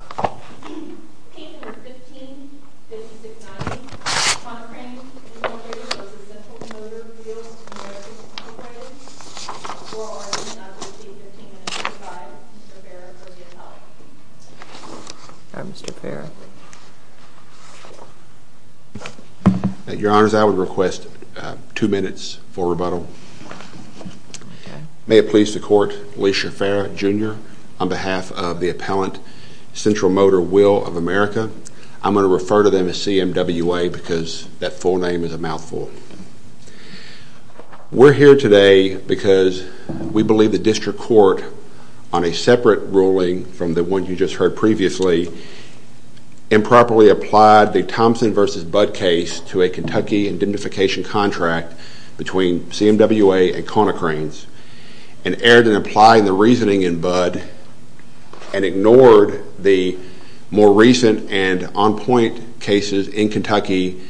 Appellant 15569, Concranes v. Central Motor Wheel America Appellant, for or against, I will give you 15 minutes to decide. Mr. Farrah for the appellant. Mr. Farrah. Your Honors, I would request two minutes for rebuttal. May it please the court, Lisha Farrah, Jr., on behalf of the Appellant, Central Motor Wheel of America, I'm going to refer to them as CMWA because that full name is a mouthful. We're here today because we believe the district court, on a separate ruling from the one you just heard previously, improperly applied the Thompson v. Budd case to a Kentucky identification contract between CMWA and Concranes, and erred in applying the reasoning in Budd and ignored the more recent and on-point cases in Kentucky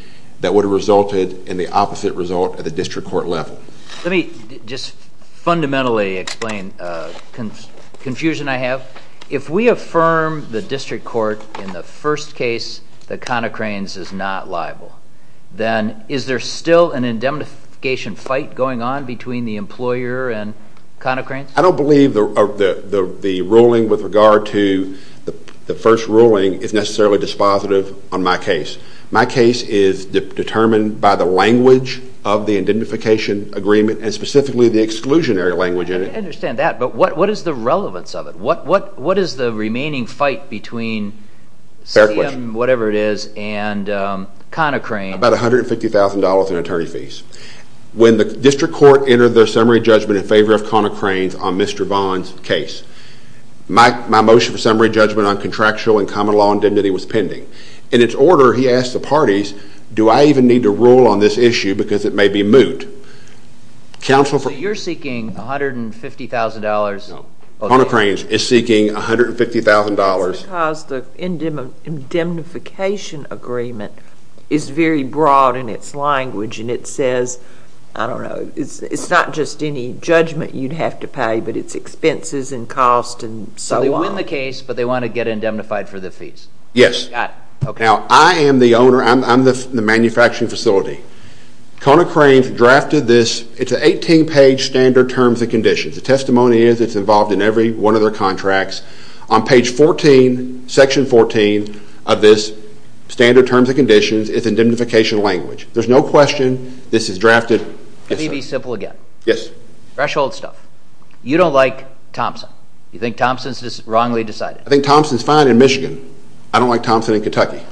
that would have resulted in the opposite result at the district court level. Let me just fundamentally explain a confusion I have. If we affirm the district court in the first case that Concranes is not liable, then is there still an indemnification fight going on between the employer and Concranes? I don't believe the ruling with regard to the first ruling is necessarily dispositive on my case. My case is determined by the language of the indemnification agreement and specifically the exclusionary language in it. I understand that, but what is the relevance of it? What is the remaining fight between CM whatever it is and Concranes? About $150,000 in attorney fees. When the district court entered their summary judgment in favor of Concranes on Mr. Bond's case, my motion for summary judgment on contractual and common law indemnity was pending. In its order, he asked the parties, do I even need to rule on this issue because it may be moot? So you're seeking $150,000? No. Concranes is seeking $150,000. That's because the indemnification agreement is very broad in its language and it says, I don't know, it's not just any judgment you'd have to pay, but it's expenses and costs and so on. So they win the case, but they want to get indemnified for the fees? Yes. Got it. Now, I am the owner. I'm the manufacturing facility. Concranes drafted this. It's an 18-page standard terms and conditions. The testimony is it's involved in every one of their contracts. On page 14, section 14 of this standard terms and conditions, it's indemnification language. There's no question this is drafted. Let me be simple again. Yes. Threshold stuff. You don't like Thompson. You think Thompson is wrongly decided. I think Thompson is fine in Michigan. I don't like Thompson in Kentucky.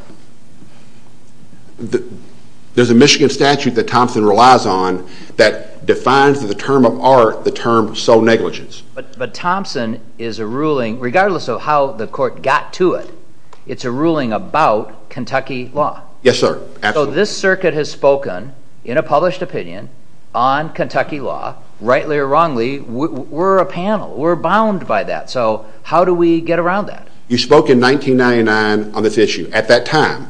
There's a Michigan statute that Thompson relies on that defines the term of art, the term sole negligence. But Thompson is a ruling, regardless of how the court got to it, it's a ruling about Kentucky law. Yes, sir. Absolutely. This circuit has spoken in a published opinion on Kentucky law, rightly or wrongly. We're a panel. We're bound by that. So how do we get around that? You spoke in 1999 on this issue. At that time,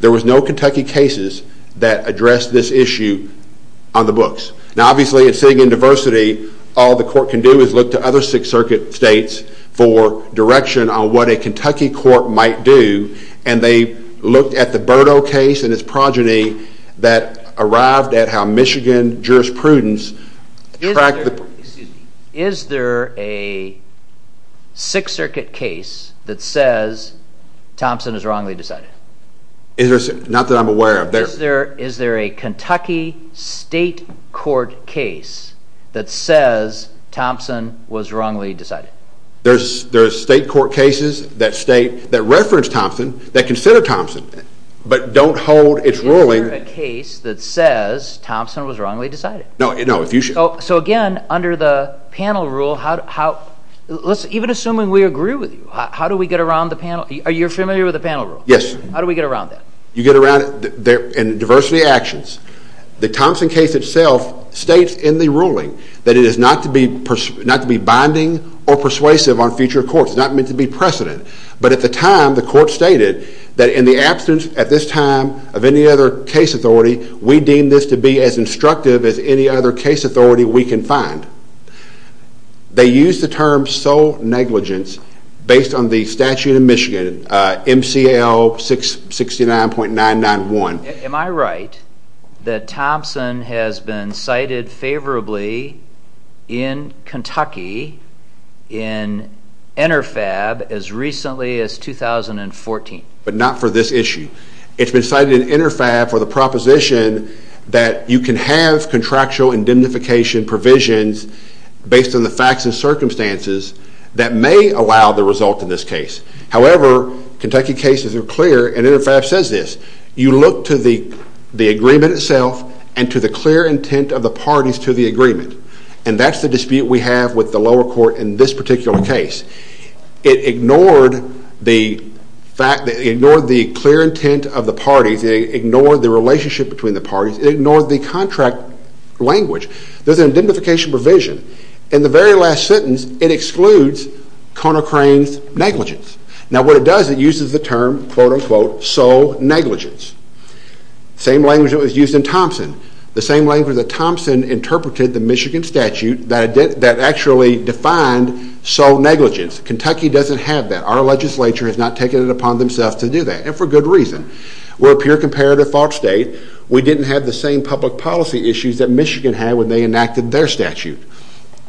there was no Kentucky cases that addressed this issue on the books. Now, obviously, it's sitting in diversity. All the court can do is look to other Sixth Circuit states for direction on what a Kentucky court might do. And they looked at the Birdo case and its progeny that arrived at how Michigan jurisprudence tracked the... Excuse me. Is there a Sixth Circuit case that says Thompson is wrongly decided? Not that I'm aware of. Is there a Kentucky state court case that says Thompson was wrongly decided? There are state court cases that state, that reference Thompson, that consider Thompson, but don't hold its ruling... Is there a case that says Thompson was wrongly decided? No. So again, under the panel rule, even assuming we agree with you, how do we get around the panel? Are you familiar with the panel rule? Yes. How do we get around that? You get around it in diversity actions. The Thompson case itself states in the ruling that it is not to be binding or persuasive on future courts. It's not meant to be precedent. But at the time, the court stated that in the absence at this time of any other case authority, we deem this to be as instructive as any other case authority we can find. They use the term sole negligence based on the statute of Michigan, MCL 669.991. Am I right that Thompson has been cited favorably in Kentucky in Interfab as recently as 2014? But not for this issue. It's been cited in Interfab for the proposition that you can have contractual indemnification provisions based on the facts and circumstances that may allow the result in this case. However, Kentucky cases are clear and Interfab says this. You look to the agreement itself and to the clear intent of the parties to the agreement. And that's the dispute we have with the lower court in this particular case. It ignored the clear intent of the parties. It ignored the relationship between the parties. It ignored the contract language. There's an indemnification provision. In the very last sentence, it excludes Conner Crane's negligence. Now what it does, it uses the term, quote unquote, sole negligence. Same language that was used in Thompson. The same language that Thompson interpreted the Michigan statute that actually defined sole negligence. Kentucky doesn't have that. Our legislature has not taken it upon themselves to do that. And for good reason. We're a pure comparative fault state. We didn't have the same public policy issues that Michigan had when they enacted their statute.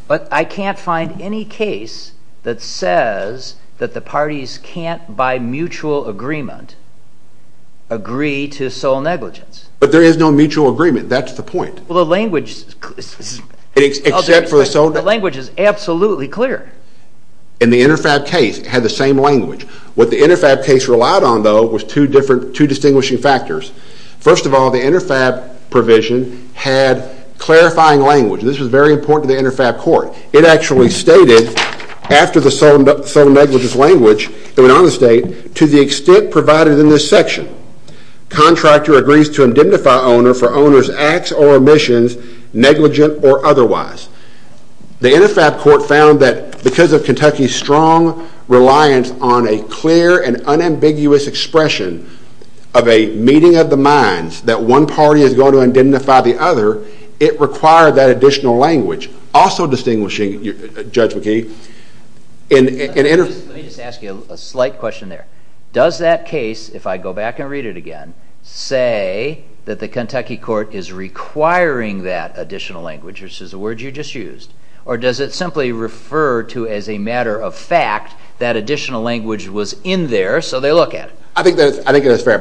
But I can't find any case that says that the parties can't, by mutual agreement, agree to sole negligence. But there is no mutual agreement. That's the point. Well, the language is absolutely clear. In the Interfab case, it had the same language. What the Interfab case relied on, though, was two distinguishing factors. First of all, the Interfab provision had clarifying language. This was very important to the Interfab court. It actually stated, after the sole negligence language, it went on to state, to the extent provided in this section, contractor agrees to indemnify owner for owner's acts or omissions, negligent or otherwise. The Interfab court found that because of Kentucky's strong reliance on a clear and unambiguous expression of a meeting of the minds, that one party is going to indemnify the other, it required that additional language. Also distinguishing, Judge McKee, in Interfab... Let me just ask you a slight question there. Does that case, if I go back and read it again, say that the Kentucky court is requiring that additional language, which is the word you just used, or does it simply refer to as a matter of fact that additional language was in there so they look at it? I think that's fair.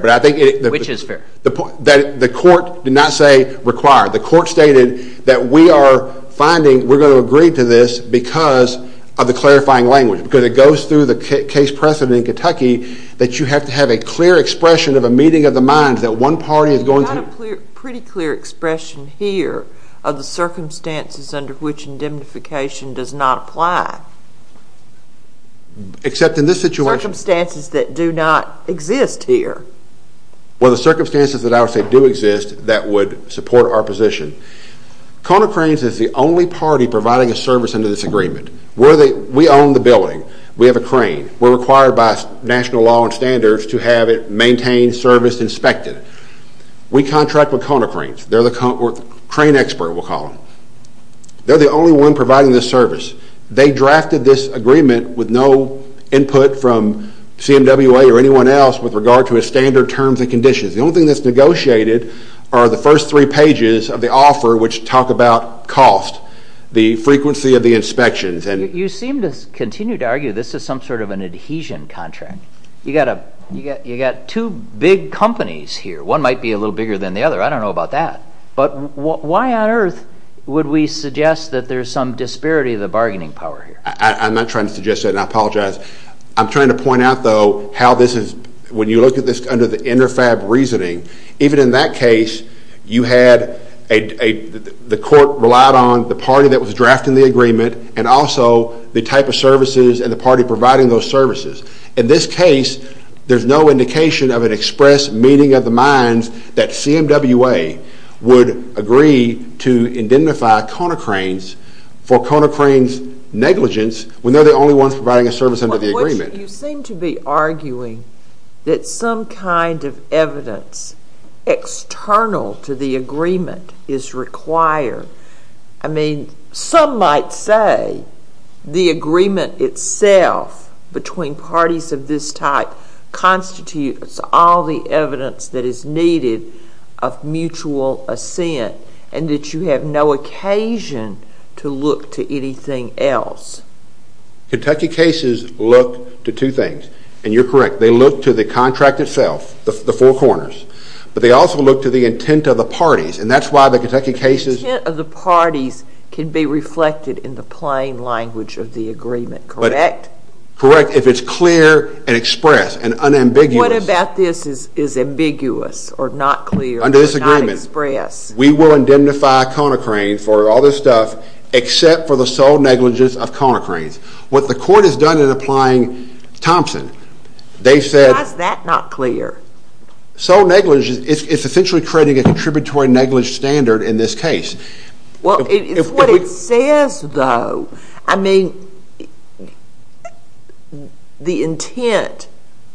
Which is fair? The court did not say required. The court stated that we are finding we're going to agree to this because of the clarifying language, because it goes through the case precedent in Kentucky that you have to have a clear expression of a meeting of the minds, that one party is going to... You've got a pretty clear expression here of the circumstances under which indemnification does not apply. Except in this situation... Circumstances that do not exist here. Well, the circumstances that I would say do exist that would support our position. Kona Cranes is the only party providing a service under this agreement. We own the building. We have a crane. We're required by national law and standards to have it maintained, serviced, inspected. We contract with Kona Cranes. They're the crane expert, we'll call them. They're the only one providing this service. They drafted this agreement with no input from CMWA or anyone else with regard to its standard terms and conditions. The only thing that's negotiated are the first three pages of the offer, which talk about cost, the frequency of the inspections. You seem to continue to argue this is some sort of an adhesion contract. You've got two big companies here. One might be a little bigger than the other. I don't know about that. But why on earth would we suggest that there's some disparity of the bargaining power here? I'm not trying to suggest that, and I apologize. I'm trying to point out, though, how this is, when you look at this under the InterFab reasoning, even in that case, you had a, the court relied on the party that was drafting the agreement and also the type of services and the party providing those services. In this case, there's no indication of an express meaning of the minds that CMWA would agree to indemnify Kona Cranes for Kona Cranes' negligence when they're the only ones providing a service under the agreement. You seem to be arguing that some kind of evidence external to the agreement is required. I mean, some might say the agreement itself between parties of this type constitutes all the evidence that is needed of mutual assent and that you have no occasion to look to anything else. Kentucky cases look to two things. And you're correct. They look to the contract itself, the four corners. But they also look to the intent of the parties. And that's why the Kentucky cases— The intent of the parties can be reflected in the plain language of the agreement, correct? Correct, if it's clear and express and unambiguous. What about this is ambiguous or not clear or not express? Under this agreement, we will indemnify Kona Cranes for all this stuff except for the sole negligence of Kona Cranes. What the court has done in applying Thompson, they said— How is that not clear? Sole negligence is essentially creating a contributory negligence standard in this case. Well, it's what it says, though. I mean, the intent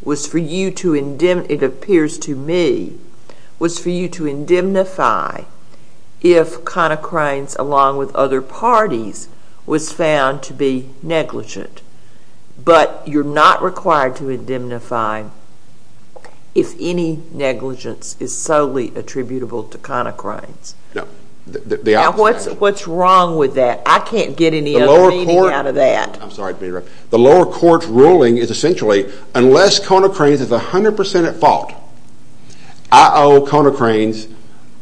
was for you to—it appears to me—was for you to indemnify if Kona Cranes, along with other parties, was found to be negligent. But you're not required to indemnify if any negligence is solely attributable to Kona Cranes. No. Now, what's wrong with that? I can't get any other meaning out of that. I'm sorry to interrupt. The lower court's ruling is essentially, unless Kona Cranes is 100% at fault, I owe Kona Cranes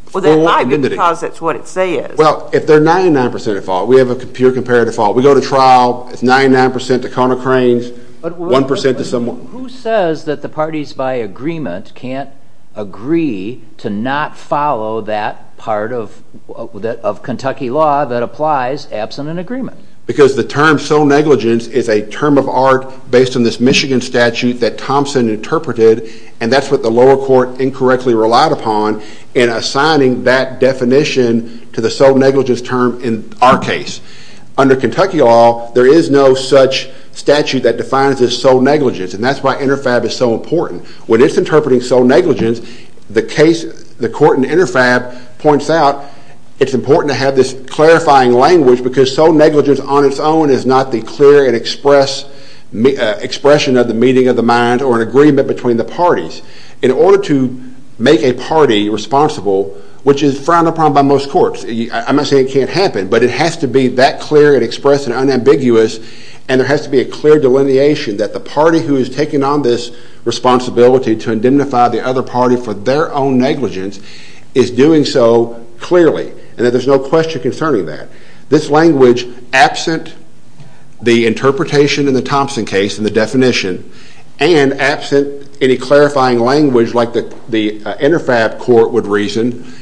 full indemnity. Well, that might be because that's what it says. Well, if they're 99% at fault, we have a pure comparative fault. We go to trial, it's 99% to Kona Cranes, 1% to someone— But who says that the parties by agreement can't agree to not follow that part of Kentucky law that applies absent an agreement? Because the term sole negligence is a term of art based on this Michigan statute that Thompson interpreted, and that's what the lower court incorrectly relied upon in assigning that definition to the sole negligence term in our case. Under Kentucky law, there is no such statute that defines as sole negligence, and that's why Interfab is so important. When it's interpreting sole negligence, the court in Interfab points out it's important to have this clarifying language because sole negligence on its own is not the clear expression of the meaning of the mind or an agreement between the parties. In order to make a party responsible, which is frowned upon by most courts— I'm not saying it can't happen, but it has to be that clear and express and unambiguous, and there has to be a clear delineation that the party who has taken on this responsibility to indemnify the other party for their own negligence is doing so clearly, and that there's no question concerning that. This language, absent the interpretation in the Thompson case and the definition, and absent any clarifying language like the Interfab court would reason,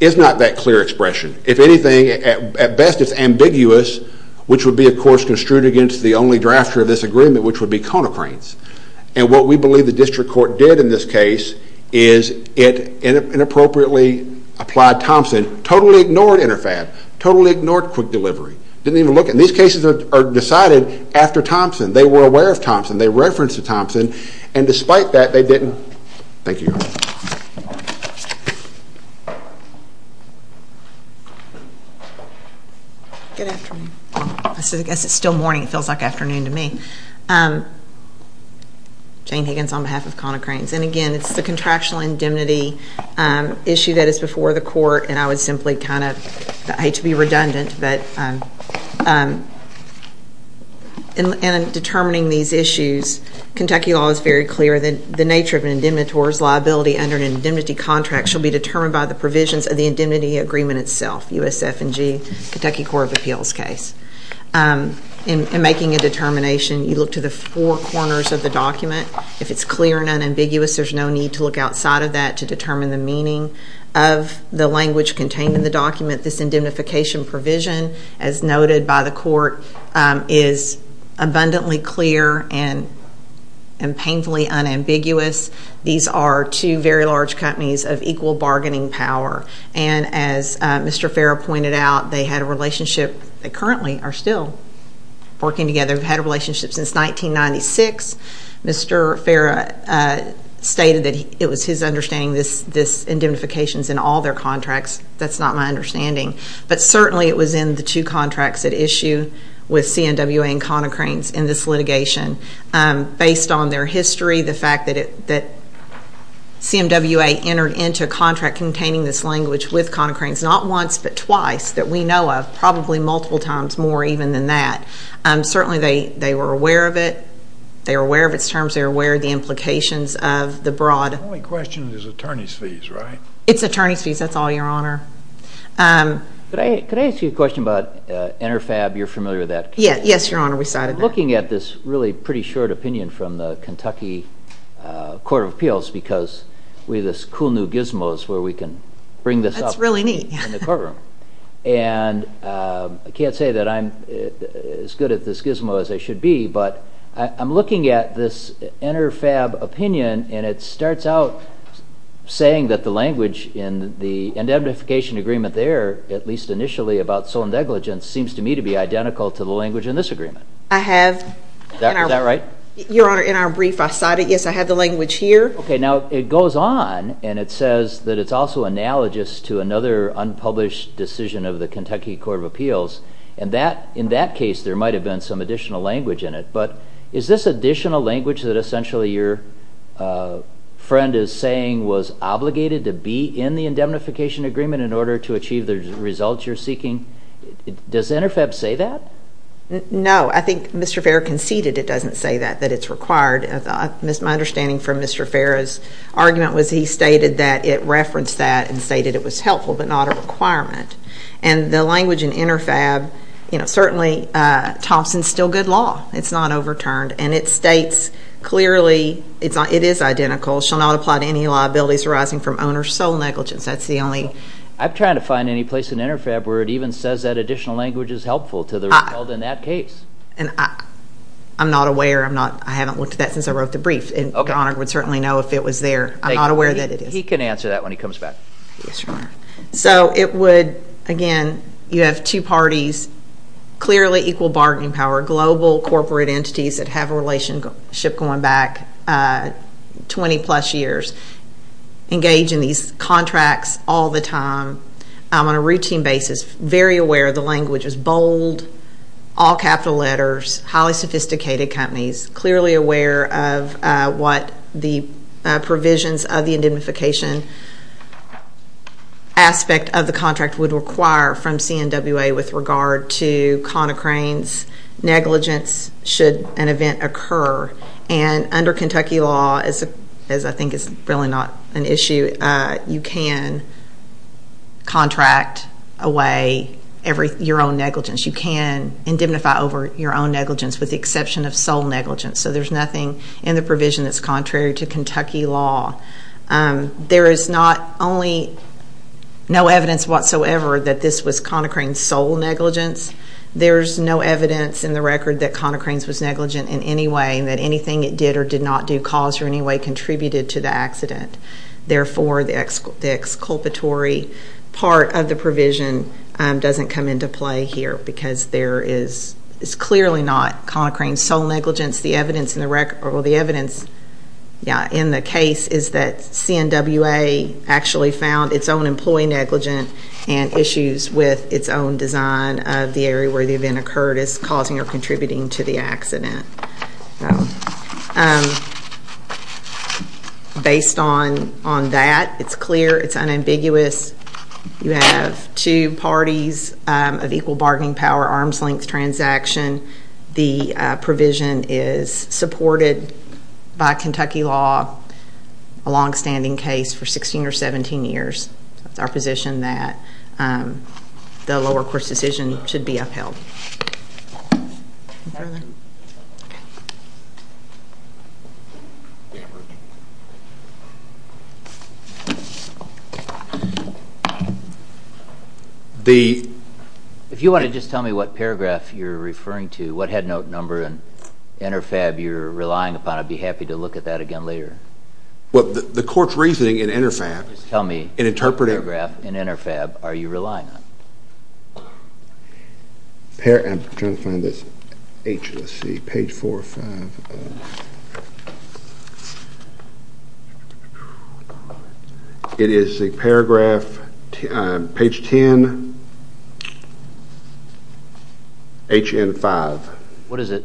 is not that clear expression. If anything, at best it's ambiguous, which would be, of course, construed against the only drafter of this agreement, which would be Conocrates. And what we believe the district court did in this case is it inappropriately applied Thompson, totally ignored Interfab, totally ignored quick delivery. These cases are decided after Thompson. They were aware of Thompson. They referenced Thompson. And despite that, they didn't. Thank you. Good afternoon. I guess it's still morning. It feels like afternoon to me. Jane Higgins on behalf of Conocrates. And again, it's the contractual indemnity issue that is before the court, and I would simply kind of hate to be redundant, but in determining these issues, Kentucky law is very clear that the nature of an indemnitor's liability under an indemnity contract shall be determined by the provisions of the indemnity agreement itself, USF&G, Kentucky Court of Appeals case. In making a determination, you look to the four corners of the document. If it's clear and unambiguous, there's no need to look outside of that to determine the meaning of the language contained in the document. This indemnification provision, as noted by the court, is abundantly clear and painfully unambiguous. These are two very large companies of equal bargaining power. And as Mr. Farah pointed out, they had a relationship. They currently are still working together. They've had a relationship since 1996. Mr. Farah stated that it was his understanding this indemnification is in all their contracts. That's not my understanding. But certainly it was in the two contracts at issue with CMWA and Conocrates in this litigation. Based on their history, the fact that CMWA entered into a contract containing this language with Conocrates not once but twice that we know of, probably multiple times more even than that. Certainly they were aware of it. They were aware of its terms. They were aware of the implications of the broad. The only question is attorney's fees, right? It's attorney's fees. That's all, Your Honor. Could I ask you a question about Interfab? You're familiar with that case. Yes, Your Honor. We cited that. I'm looking at this really pretty short opinion from the Kentucky Court of Appeals That's really neat. And I can't say that I'm as good at this gizmo as I should be, but I'm looking at this Interfab opinion, and it starts out saying that the language in the indemnification agreement there, at least initially about sole negligence, seems to me to be identical to the language in this agreement. I have. Is that right? Your Honor, in our brief I cited, yes, I have the language here. Okay, now it goes on, and it says that it's also analogous to another unpublished decision of the Kentucky Court of Appeals, and in that case there might have been some additional language in it, but is this additional language that essentially your friend is saying was obligated to be in the indemnification agreement in order to achieve the results you're seeking, does Interfab say that? No, I think Mr. Fair conceded it doesn't say that, that it's required. My understanding from Mr. Fair's argument was he stated that it referenced that and stated it was helpful but not a requirement. And the language in Interfab, certainly Thompson's still good law. It's not overturned. And it states clearly it is identical, shall not apply to any liabilities arising from owner's sole negligence. That's the only. I'm trying to find any place in Interfab where it even says that additional language is helpful to the result in that case. I'm not aware. I haven't looked at that since I wrote the brief, and Your Honor would certainly know if it was there. I'm not aware that it is. He can answer that when he comes back. Yes, Your Honor. So it would, again, you have two parties, clearly equal bargaining power, global corporate entities that have a relationship going back 20-plus years, engage in these contracts all the time on a routine basis, very aware of the language, is bold, all capital letters, highly sophisticated companies, clearly aware of what the provisions of the indemnification aspect of the contract would require from CNWA with regard to Conocrane's negligence should an event occur. And under Kentucky law, as I think is really not an issue, you can contract away your own negligence. You can indemnify over your own negligence with the exception of sole negligence. So there's nothing in the provision that's contrary to Kentucky law. There is not only no evidence whatsoever that this was Conocrane's sole negligence. There's no evidence in the record that Conocrane's was negligent in any way or did not do cause or any way contributed to the accident. Therefore, the exculpatory part of the provision doesn't come into play here because there is clearly not Conocrane's sole negligence. The evidence in the case is that CNWA actually found its own employee negligent and issues with its own design of the area where the event occurred as causing or contributing to the accident. Based on that, it's clear, it's unambiguous. You have two parties of equal bargaining power, arm's length transaction. The provision is supported by Kentucky law, a longstanding case for 16 or 17 years. It's our position that the lower court's decision should be upheld. If you want to just tell me what paragraph you're referring to, what headnote number in InterFab you're relying upon, I'd be happy to look at that again later. Well, the court's reasoning in InterFab, in interpreting... Just tell me what paragraph in InterFab are you relying on? I'm trying to find this. Let's see, page 4 or 5. It is a paragraph, page 10, HN5.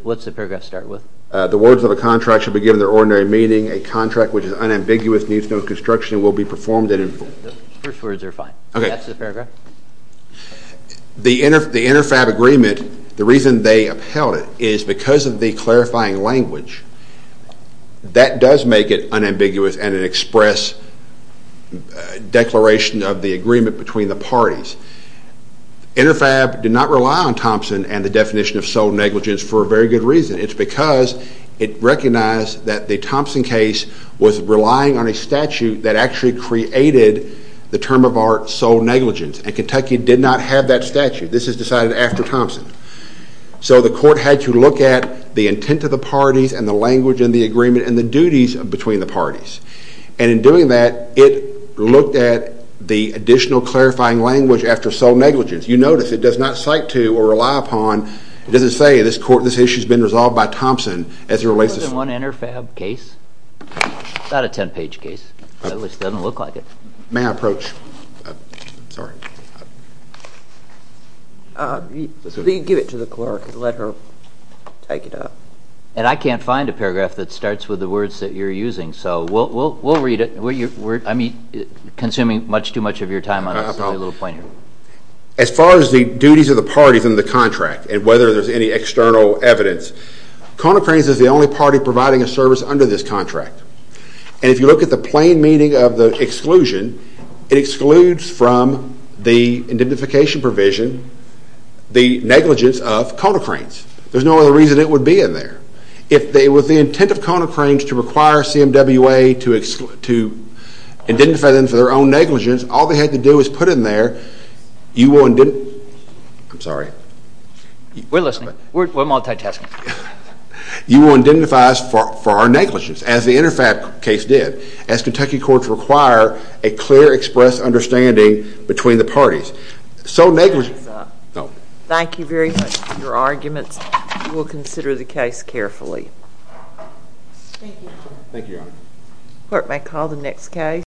What's the paragraph start with? The words of a contract shall be given their ordinary meaning. A contract which is unambiguous, needs no construction, and will be performed in... The first words are fine. Okay. That's the paragraph? The InterFab agreement, the reason they upheld it, is because of the clarifying language. That does make it unambiguous and an express declaration of the agreement between the parties. InterFab did not rely on Thompson and the definition of sole negligence for a very good reason. It's because it recognized that the Thompson case was relying on a statute that actually created the term of art sole negligence, and Kentucky did not have that statute. This is decided after Thompson. So the court had to look at the intent of the parties and the language in the agreement and the duties between the parties. And in doing that, it looked at the additional clarifying language after sole negligence. You notice it does not cite to or rely upon, it doesn't say this issue has been resolved by Thompson as it relates to... More than one InterFab case? It's not a ten-page case. It doesn't look like it. May I approach? Sorry. Give it to the clerk and let her take it up. And I can't find a paragraph that starts with the words that you're using, so we'll read it. I'm consuming much too much of your time on this little pointer. As far as the duties of the parties in the contract and whether there's any external evidence, Kona Cranes is the only party providing a service under this contract. And if you look at the plain meaning of the exclusion, it excludes from the identification provision the negligence of Kona Cranes. There's no other reason it would be in there. If it was the intent of Kona Cranes to require CMWA to identify them for their own negligence, all they had to do was put it in there. You will... I'm sorry. We're listening. We're multitasking. You will identify us for our negligence, as the InterFab case did, as Kentucky courts require a clear, express understanding between the parties. So negligence... Time's up. Thank you very much for your arguments. We'll consider the case carefully. Thank you. Thank you, Your Honor. Court may call the next case.